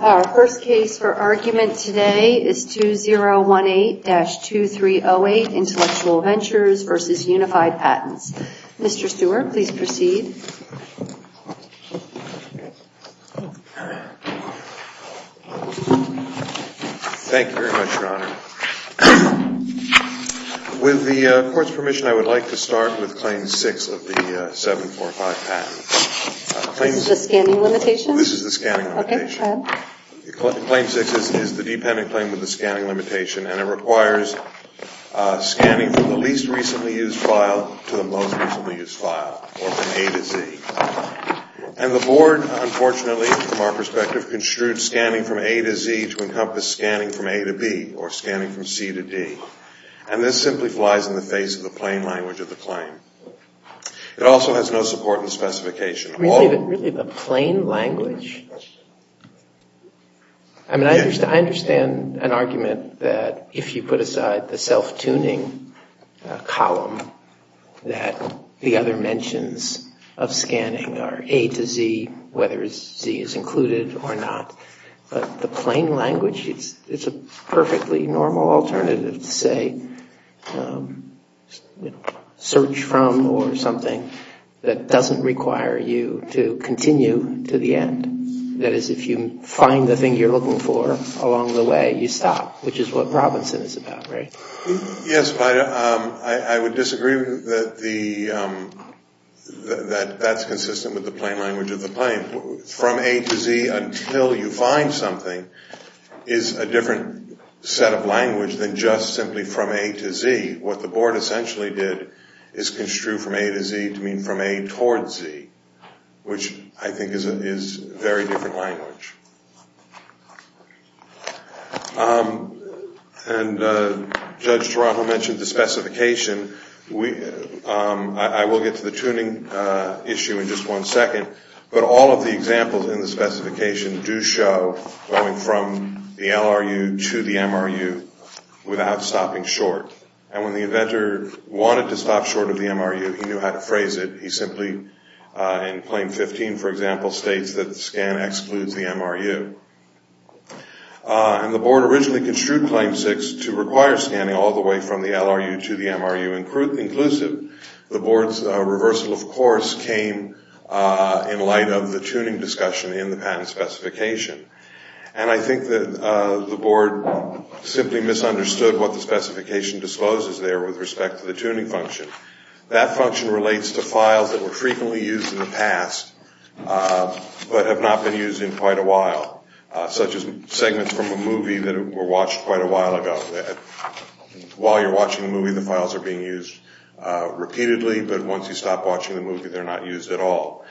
Our first case for argument today is 2018-2308 Intellectual Ventures v. Unified Patents. Mr. Stewart, please proceed. Thank you very much, Your Honor. With the court's permission, I would like to start with Claim 6 of the 745 patent. This is the scanning limitation? This is the scanning limitation. Claim 6 is the dependent claim with the scanning limitation, and it requires scanning from the least recently used file to the most recently used file, or from A to Z. And the Board, unfortunately, from our perspective, construed scanning from A to Z to encompass scanning from A to B, or scanning from C to D. And this simply flies in the face of the plain language of the claim. It also has no support in the specification. Really, the plain language? I mean, I understand an argument that if you put aside the self-tuning column, that the other mentions of scanning are A to Z, whether Z is included or not. But the plain language, it's a perfectly normal alternative to say search from or something that doesn't require you to continue to the end. That is, if you find the thing you're looking for along the way, you stop, which is what Robinson is about, right? Yes, but I would disagree that that's consistent with the plain language of the claim. From A to Z until you find something is a different set of language than just simply from A to Z. What the Board essentially did is construe from A to Z to mean from A towards Z, which I think is very different language. And Judge Toronto mentioned the specification. I will get to the tuning issue in just one second. But all of the examples in the specification do show going from the LRU to the MRU without stopping short. And when the inventor wanted to stop short of the MRU, he knew how to phrase it. He simply, in Claim 15, for example, states that the scan excludes the MRU. And the Board originally construed Claim 6 to require scanning all the way from the LRU to the MRU inclusive. The Board's reversal, of course, came in light of the tuning discussion in the patent specification. And I think that the Board simply misunderstood what the specification discloses there with respect to the tuning function. That function relates to files that were frequently used in the past but have not been used in quite a while, such as segments from a movie that were watched quite a while ago. While you're watching the movie, the files are being used repeatedly, but once you stop watching the movie, they're not used at all.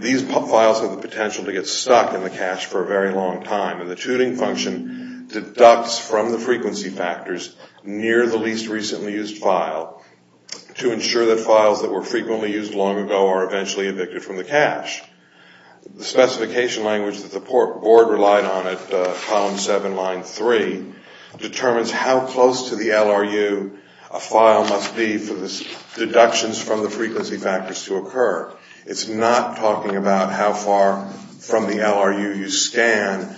These files have the potential to get stuck in the cache for a very long time. And the tuning function deducts from the frequency factors near the least recently used file to ensure that files that were frequently used long ago are eventually evicted from the cache. The specification language that the Board relied on at Column 7, Line 3, determines how close to the LRU a file must be for the deductions from the frequency factors to occur. It's not talking about how far from the LRU you scan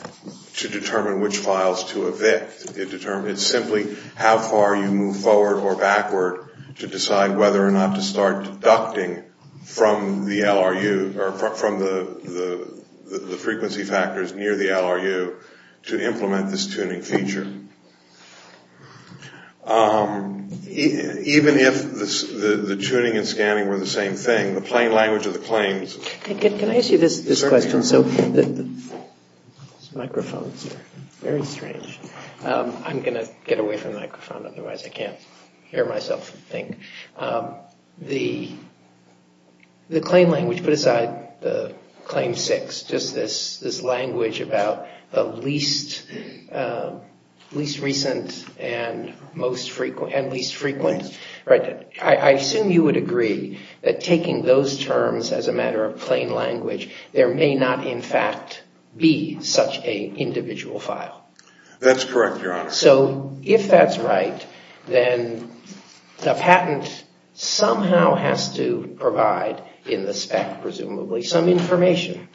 to determine which files to evict. It's simply how far you move forward or backward to decide whether or not to start deducting from the LRU or from the frequency factors near the LRU to implement this tuning feature. Even if the tuning and scanning were the same thing, the plain language of the claims... Can I ask you this question? This microphone is very strange. I'm going to get away from the microphone, otherwise I can't hear myself think. The claim language, put aside the Claim 6, just this language about the least recent and least frequent. I assume you would agree that taking those terms as a matter of plain language, there may not in fact be such an individual file. That's correct, Your Honor. If that's right, then the patent somehow has to provide in the spec, presumably, some information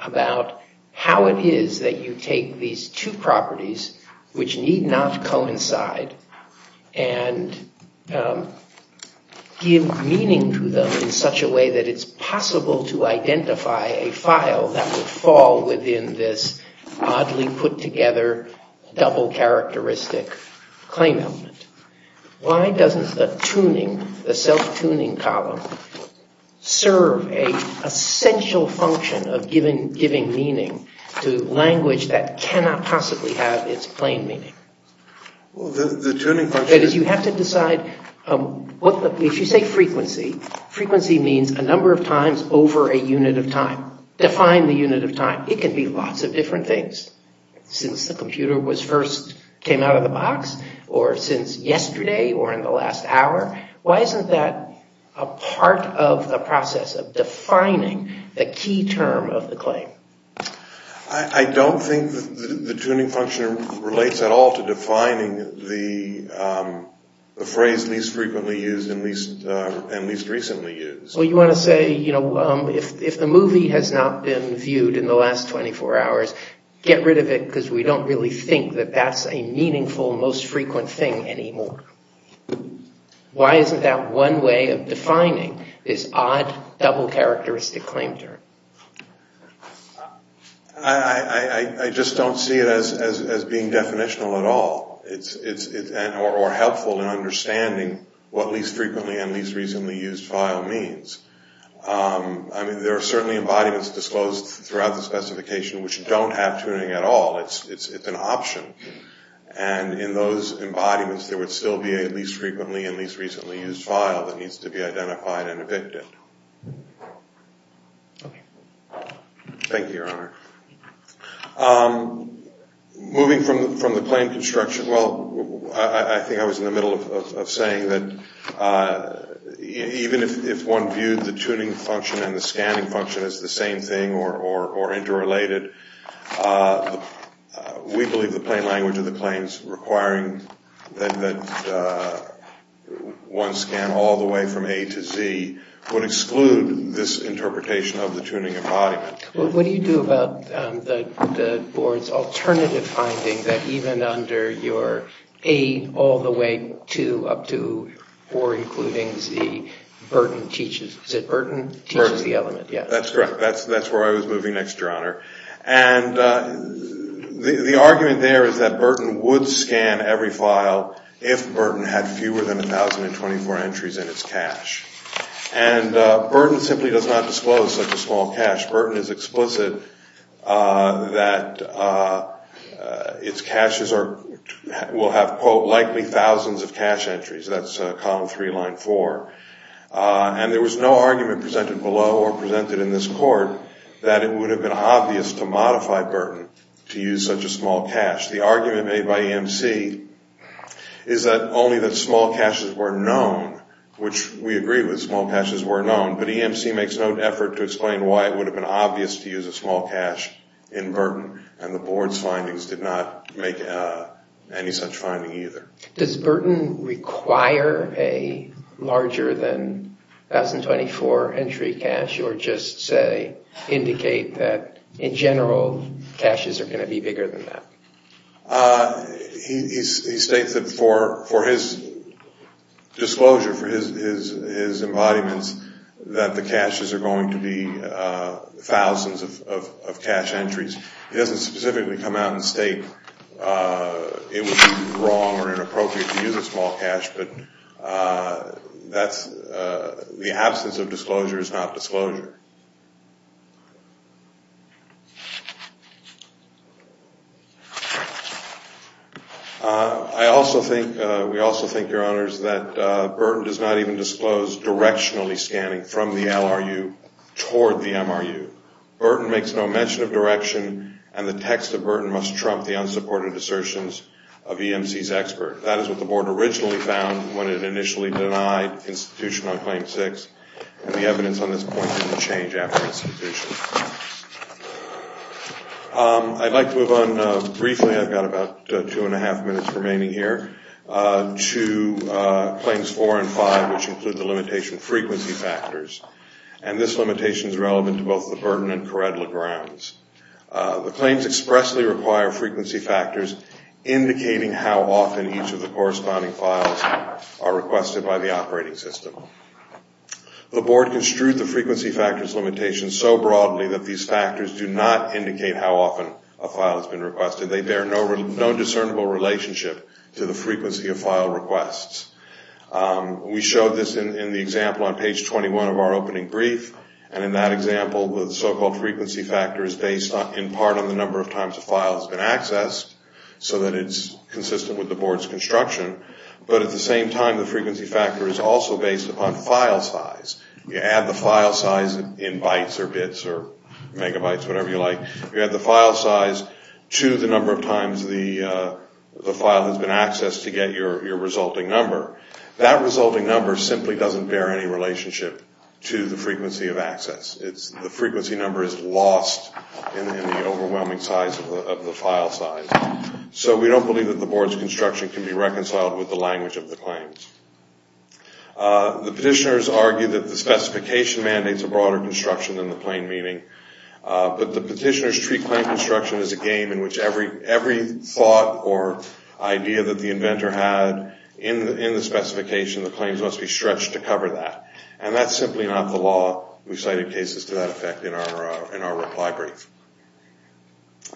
about how it is that you take these two properties, which need not coincide, and give meaning to them in such a way that it's possible to identify a file that would fall within this oddly-put-together, double-characteristic claim element. Why doesn't the tuning, the self-tuning column, serve an essential function of giving meaning to language that cannot possibly have its plain meaning? Well, the tuning function... That is, you have to decide... If you say frequency, frequency means a number of times over a unit of time. Now, define the unit of time. It can be lots of different things. Since the computer first came out of the box, or since yesterday, or in the last hour. Why isn't that a part of the process of defining the key term of the claim? I don't think the tuning function relates at all to defining the phrase least frequently used and least recently used. So you want to say, you know, if the movie has not been viewed in the last 24 hours, get rid of it because we don't really think that that's a meaningful, most frequent thing anymore. Why isn't that one way of defining this odd, double-characteristic claim term? I just don't see it as being definitional at all. Or helpful in understanding what least frequently and least recently used file means. I mean, there are certainly embodiments disclosed throughout the specification which don't have tuning at all. It's an option. And in those embodiments, there would still be a least frequently and least recently used file that needs to be identified and evicted. Thank you, Your Honor. Moving from the claim construction, well, I think I was in the middle of saying that even if one viewed the tuning function and the scanning function as the same thing or interrelated, we believe the plain language of the claims requiring that one scan all the way from A to Z would exclude this interpretation of the tuning embodiment. What do you do about the board's alternative finding that even under your A all the way to up to or including Z, Burton teaches the element? That's correct. That's where I was moving next, Your Honor. And the argument there is that Burton would scan every file if Burton had fewer than 1,024 entries in its cache. And Burton simply does not disclose such a small cache. Burton is explicit that its caches will have, quote, likely thousands of cache entries. That's column three, line four. And there was no argument presented below or presented in this court that it would have been obvious to modify Burton to use such a small cache. The argument made by EMC is that only the small caches were known, which we agree with, small caches were known. But EMC makes no effort to explain why it would have been obvious to use a small cache in Burton, and the board's findings did not make any such finding either. Does Burton require a larger than 1,024 entry cache or just say indicate that in general caches are going to be bigger than that? He states that for his disclosure, for his embodiments, that the caches are going to be thousands of cache entries. He doesn't specifically come out and state it would be wrong or inappropriate to use a small cache, but the absence of disclosure is not disclosure. I also think, we also think, Your Honors, that Burton does not even disclose directionally scanning from the LRU toward the MRU. Burton makes no mention of direction, and the text of Burton must trump the unsupported assertions of EMC's expert. That is what the board originally found when it initially denied institution on claim six, and the evidence on this point didn't change after institution. I'd like to move on briefly, I've got about two and a half minutes remaining here, to claims four and five, which include the limitation frequency factors, and this limitation is relevant to both the Burton and Caretta grounds. The claims expressly require frequency factors, indicating how often each of the corresponding files are requested by the operating system. The board construed the frequency factors limitation so broadly that these factors do not indicate how often a file has been requested. They bear no discernible relationship to the frequency of file requests. We showed this in the example on page 21 of our opening brief, and in that example the so-called frequency factor is based in part on the number of times a file has been accessed, so that it's consistent with the board's construction, but at the same time the frequency factor is also based upon file size. You add the file size in bytes or bits or megabytes, whatever you like, you add the file size to the number of times the file has been accessed to get your resulting number. That resulting number simply doesn't bear any relationship to the frequency of access. The frequency number is lost in the overwhelming size of the file size. So we don't believe that the board's construction can be reconciled with the language of the claims. The petitioners argue that the specification mandates a broader construction than the plain meaning, but the petitioners treat plain construction as a game in which every thought or idea that the inventor had in the specification, the claims must be stretched to cover that, and that's simply not the law. We cited cases to that effect in our reply brief.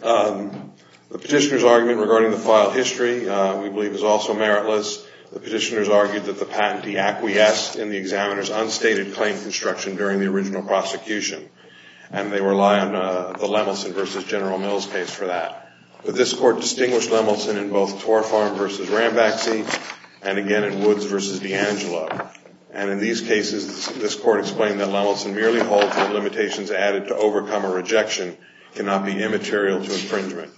The petitioner's argument regarding the file history we believe is also meritless. The petitioners argued that the patentee acquiesced in the examiner's unstated claim construction during the original prosecution, and they rely on the Lemelson v. General Mills case for that. But this court distinguished Lemelson in both Torfarm v. Rambacci and again in Woods v. DeAngelo, and in these cases this court explained that Lemelson merely holds the limitations added to overcome a rejection cannot be immaterial to infringement.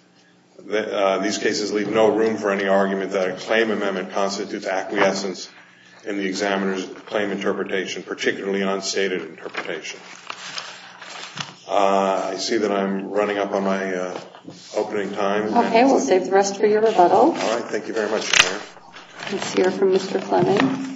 These cases leave no room for any argument that a claim amendment constitutes acquiescence in the examiner's claim interpretation, particularly unstated interpretation. I see that I'm running up on my opening time. Okay, we'll save the rest for your rebuttal. All right, thank you very much, Chair. Let's hear from Mr. Fleming.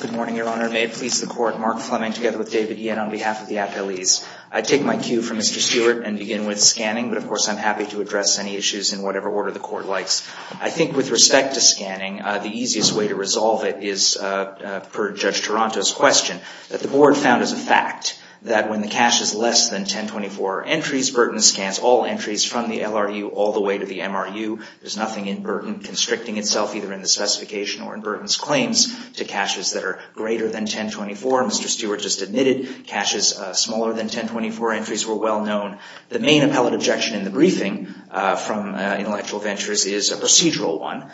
Good morning, Your Honor. May it please the Court, Mark Fleming together with David Ian on behalf of the appellees. I take my cue from Mr. Stewart and begin with scanning, but of course I'm happy to address any issues in whatever order the Court likes. I think with respect to scanning, the easiest way to resolve it is per Judge Toronto's question that the Board found as a fact that when the cash is less than 1024 entries, Burton scans all entries from the LRU all the way to the MRU. There's nothing in Burton constricting itself either in the specification or in Burton's claims to caches that are greater than 1024. Mr. Stewart just admitted caches smaller than 1024 entries were well known. The main appellate objection in the briefing from Intellectual Ventures is a procedural one.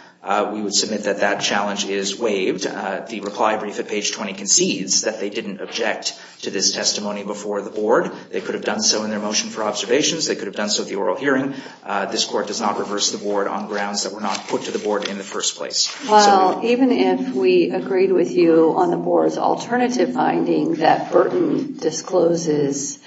We would submit that that challenge is waived. The reply brief at page 20 concedes that they didn't object to this testimony before the Board. They could have done so in their motion for observations. They could have done so at the oral hearing. This Court does not reverse the Board on grounds that were not put to the Board in the first place. Well, even if we agreed with you on the Board's alternative finding that Burton discloses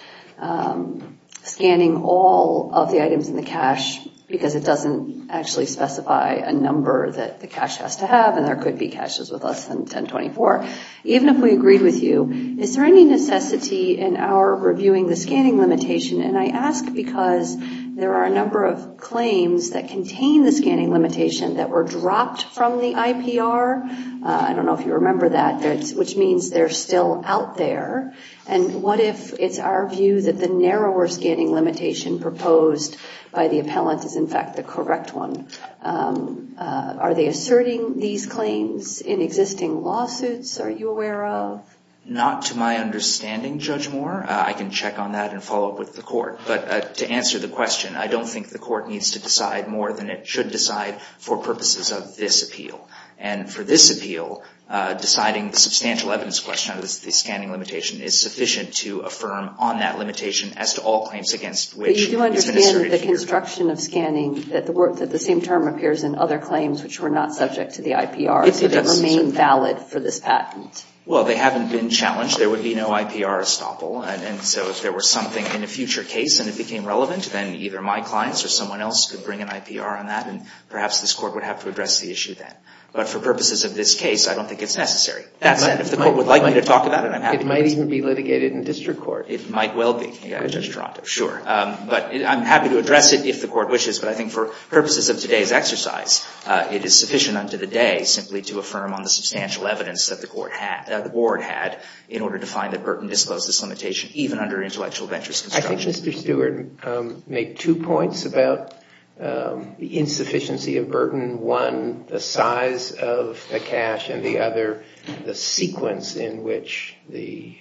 scanning all of the items in the cache because it doesn't actually specify a number that the cache has to have and there could be caches with less than 1024, even if we agreed with you, is there any necessity in our reviewing the scanning limitation? And I ask because there are a number of claims that contain the scanning limitation that were dropped from the IPR. I don't know if you remember that, which means they're still out there. And what if it's our view that the narrower scanning limitation proposed by the appellant is in fact the correct one? Are they asserting these claims in existing lawsuits, are you aware of? Not to my understanding, Judge Moore. I can check on that and follow up with the Court. But to answer the question, I don't think the Court needs to decide more than it should decide for purposes of this appeal. And for this appeal, deciding the substantial evidence question of the scanning limitation is sufficient to affirm on that limitation as to all claims against which it's been asserted. But you do understand that the construction of scanning, that the same term appears in other claims which were not subject to the IPR, so they remain valid for this patent. Well, they haven't been challenged. There would be no IPR estoppel. And so if there were something in a future case and it became relevant, then either my clients or someone else could bring an IPR on that and perhaps this Court would have to address the issue then. But for purposes of this case, I don't think it's necessary. That said, if the Court would like me to talk about it, I'm happy to. It might even be litigated in district court. It might well be, Judge Toronto, sure. But I'm happy to address it if the Court wishes. But I think for purposes of today's exercise, it is sufficient unto the day simply to affirm on the substantial evidence that the Board had in order to find that Burton disclosed this limitation even under intellectual ventures construction. I think Mr. Stewart made two points about the insufficiency of Burton. One, the size of the cache, and the other, the sequence in which the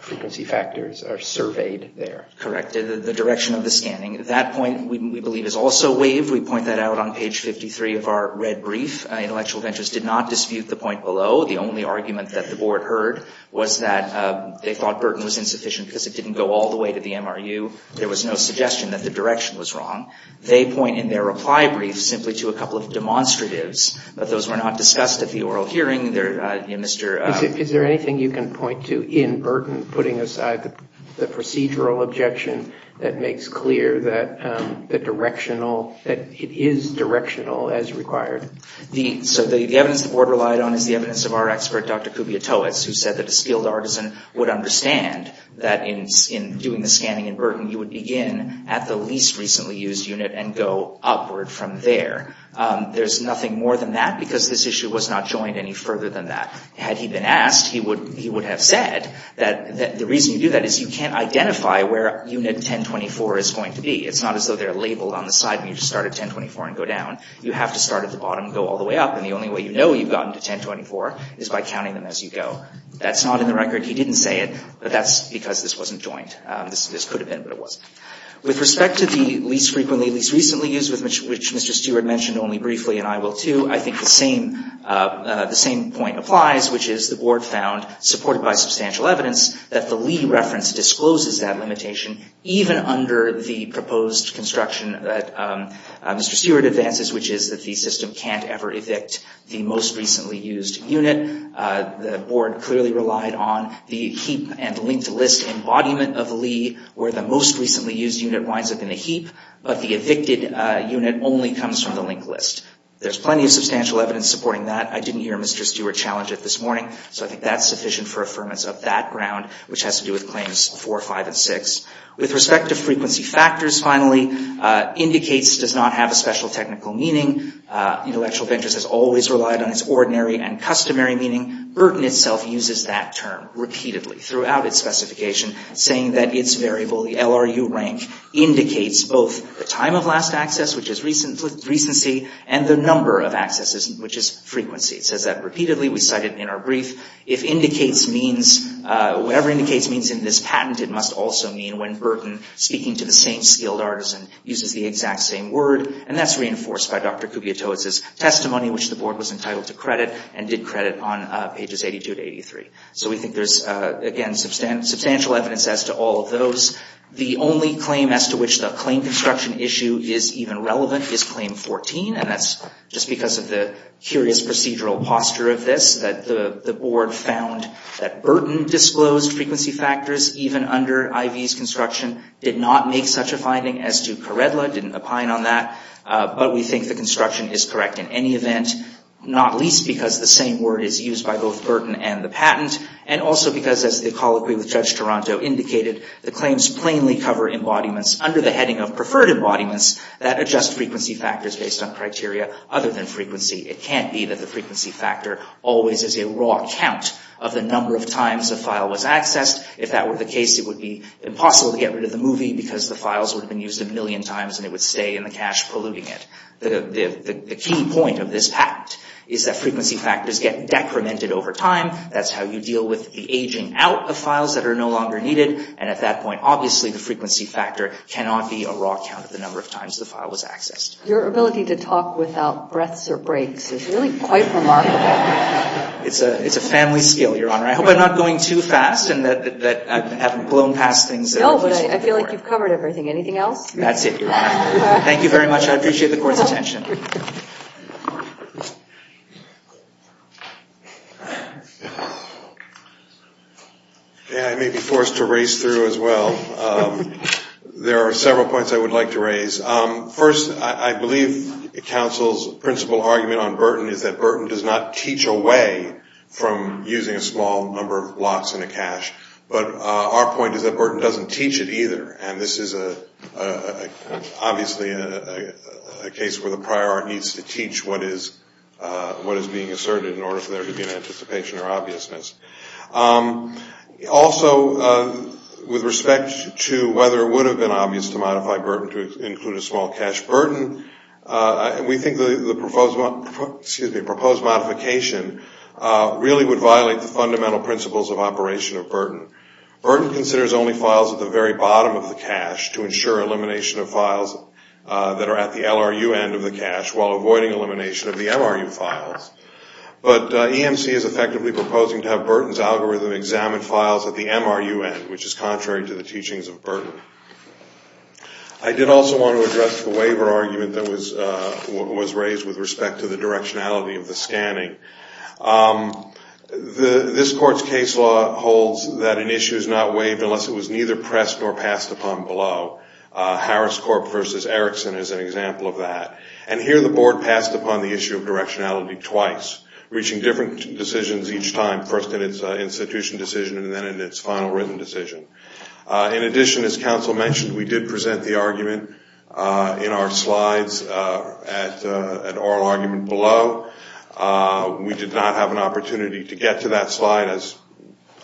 frequency factors are surveyed there. Correct. The direction of the scanning. That point, we believe, is also waived. We point that out on page 53 of our red brief. Intellectual ventures did not dispute the point below. The only argument that the Board heard was that they thought Burton was insufficient because it didn't go all the way to the MRU. There was no suggestion that the direction was wrong. They point in their reply brief simply to a couple of demonstratives, but those were not discussed at the oral hearing. Mr. Is there anything you can point to in Burton putting aside the procedural objection that makes clear that the directional, that it is directional as required? So the evidence the Board relied on is the evidence of our expert, Dr. Kubia Toews, who said that a skilled artisan would understand that in doing the scanning in Burton, you would begin at the least recently used unit and go upward from there. There's nothing more than that because this issue was not joined any further than that. Had he been asked, he would have said that the reason you do that is you can't identify where unit 1024 is going to be. It's not as though they're labeled on the side and you just start at 1024 and go down. You have to start at the bottom and go all the way up, and the only way you know you've gotten to 1024 is by counting them as you go. That's not in the record. He didn't say it, but that's because this wasn't joined. This could have been, but it wasn't. With respect to the least frequently, least recently used, which Mr. Stewart mentioned only briefly, and I will too, I think the same point applies, which is the Board found, supported by substantial evidence, that the Lee reference discloses that limitation even under the proposed construction that Mr. Stewart advances, which is that the system can't ever evict the most recently used unit. The Board clearly relied on the heap and linked list embodiment of Lee, where the most recently used unit winds up in a heap, but the evicted unit only comes from the linked list. There's plenty of substantial evidence supporting that. I didn't hear Mr. Stewart challenge it this morning, so I think that's sufficient for affirmance of that ground, which has to do with Claims 4, 5, and 6. With respect to frequency factors, finally, indicates does not have a special technical meaning. Intellectual interest has always relied on its ordinary and customary meaning. Burton itself uses that term repeatedly throughout its specification, saying that its variable, the LRU rank, indicates both the time of last access, which is recency, and the number of accesses, which is frequency. It says that repeatedly. We cite it in our brief. If indicates means, whatever indicates means in this patent, it must also mean when Burton, speaking to the same skilled artisan, uses the exact same word, and that's reinforced by Dr. Kubiotowicz's testimony, which the Board was entitled to credit and did credit on pages 82 to 83. So we think there's, again, substantial evidence as to all of those. The only claim as to which the claim construction issue is even relevant is Claim 14, and that's just because of the curious procedural posture of this, that the Board found that Burton disclosed frequency factors even under Ivey's construction, did not make such a finding as to Karedla, didn't opine on that, but we think the construction is correct in any event, not least because the same word is used by both Burton and the patent, and also because, as the colloquy with Judge Toronto indicated, the claims plainly cover embodiments under the heading of preferred embodiments that adjust frequency factors based on criteria other than frequency. It can't be that the frequency factor always is a raw count of the number of times a file was accessed. If that were the case, it would be impossible to get rid of the movie because the files would have been used a million times and it would stay in the cache polluting it. The key point of this patent is that frequency factors get decremented over time. That's how you deal with the aging out of files that are no longer needed, and at that point, obviously, the frequency factor cannot be a raw count of the number of times the file was accessed. Your ability to talk without breaths or breaks is really quite remarkable. It's a family skill, Your Honor. I hope I'm not going too fast and that I haven't blown past things. No, but I feel like you've covered everything. Anything else? That's it, Your Honor. Thank you very much. I appreciate the Court's attention. I may be forced to race through as well. There are several points I would like to raise. First, I believe the counsel's principle argument on Burton is that Burton does not teach away from using a small number of blocks in a cache, but our point is that Burton doesn't teach it either, and this is obviously a case where the prior art needs to teach what is being asserted in order for there to be an anticipation or obviousness. Also, with respect to whether it would have been obvious to modify Burton to include a small cache, Burton, we think the proposed modification really would violate the fundamental principles of operation of Burton. Burton considers only files at the very bottom of the cache to ensure elimination of files that are at the LRU end of the cache while avoiding elimination of the MRU files, but EMC is effectively proposing to have Burton's algorithm examine files at the MRU end, which is contrary to the teachings of Burton. I did also want to address the waiver argument that was raised with respect to the directionality of the scanning. This Court's case law holds that an issue is not waived unless it was neither pressed nor passed upon below. Harris Corp versus Erickson is an example of that, and here the Board passed upon the issue of directionality twice, reaching different decisions each time, first in its institution decision and then in its final written decision. In addition, as counsel mentioned, we did present the argument in our slides at oral argument below. We did not have an opportunity to get to that slide, as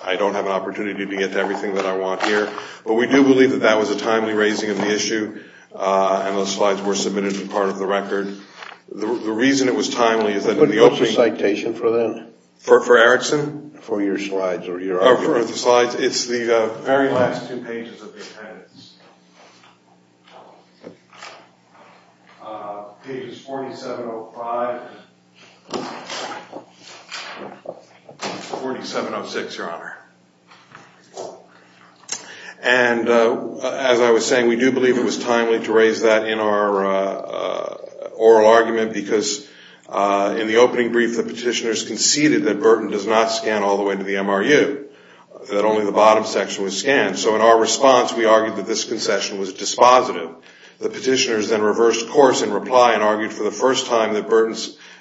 I don't have an opportunity to get to everything that I want here, but we do believe that that was a timely raising of the issue, and those slides were submitted as part of the record. The reason it was timely is that in the opening- What's the citation for that? For Erickson? For your slides or your argument. Oh, for the slides. It's the very last two pages of the appendix. Pages 4705 and 4706, Your Honor. And as I was saying, we do believe it was timely to raise that in our oral argument because in the opening brief, the petitioners conceded that Burton does not scan all the way to the MRU, that only the bottom section was scanned. So in our response, we argued that this concession was dispositive. The petitioners then reversed course in reply and argued for the first time that Burton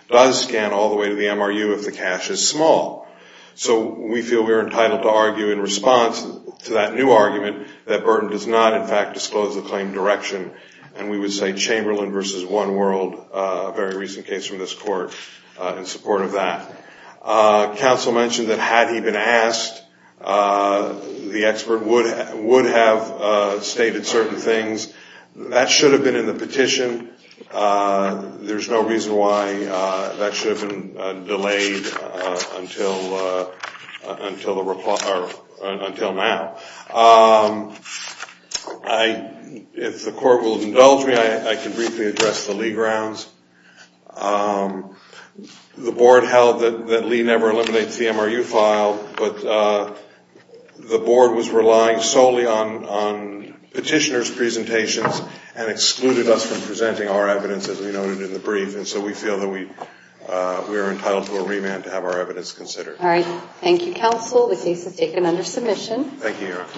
does scan all the way to the MRU if the cache is small. So we feel we are entitled to argue in response to that new argument that Burton does not, in fact, disclose the claim direction, and we would say Chamberlain v. One World, a very recent case from this court, in support of that. Counsel mentioned that had he been asked, the expert would have stated certain things. That should have been in the petition. There's no reason why that should have been delayed until now. If the court will indulge me, I can briefly address the Lee grounds. The board held that Lee never eliminates the MRU file, but the board was relying solely on petitioners' presentations and excluded us from presenting our evidence, as we noted in the brief, and so we feel that we are entitled to a remand to have our evidence considered. All right. Thank you, counsel. The case is taken under submission. Thank you, Your Honor.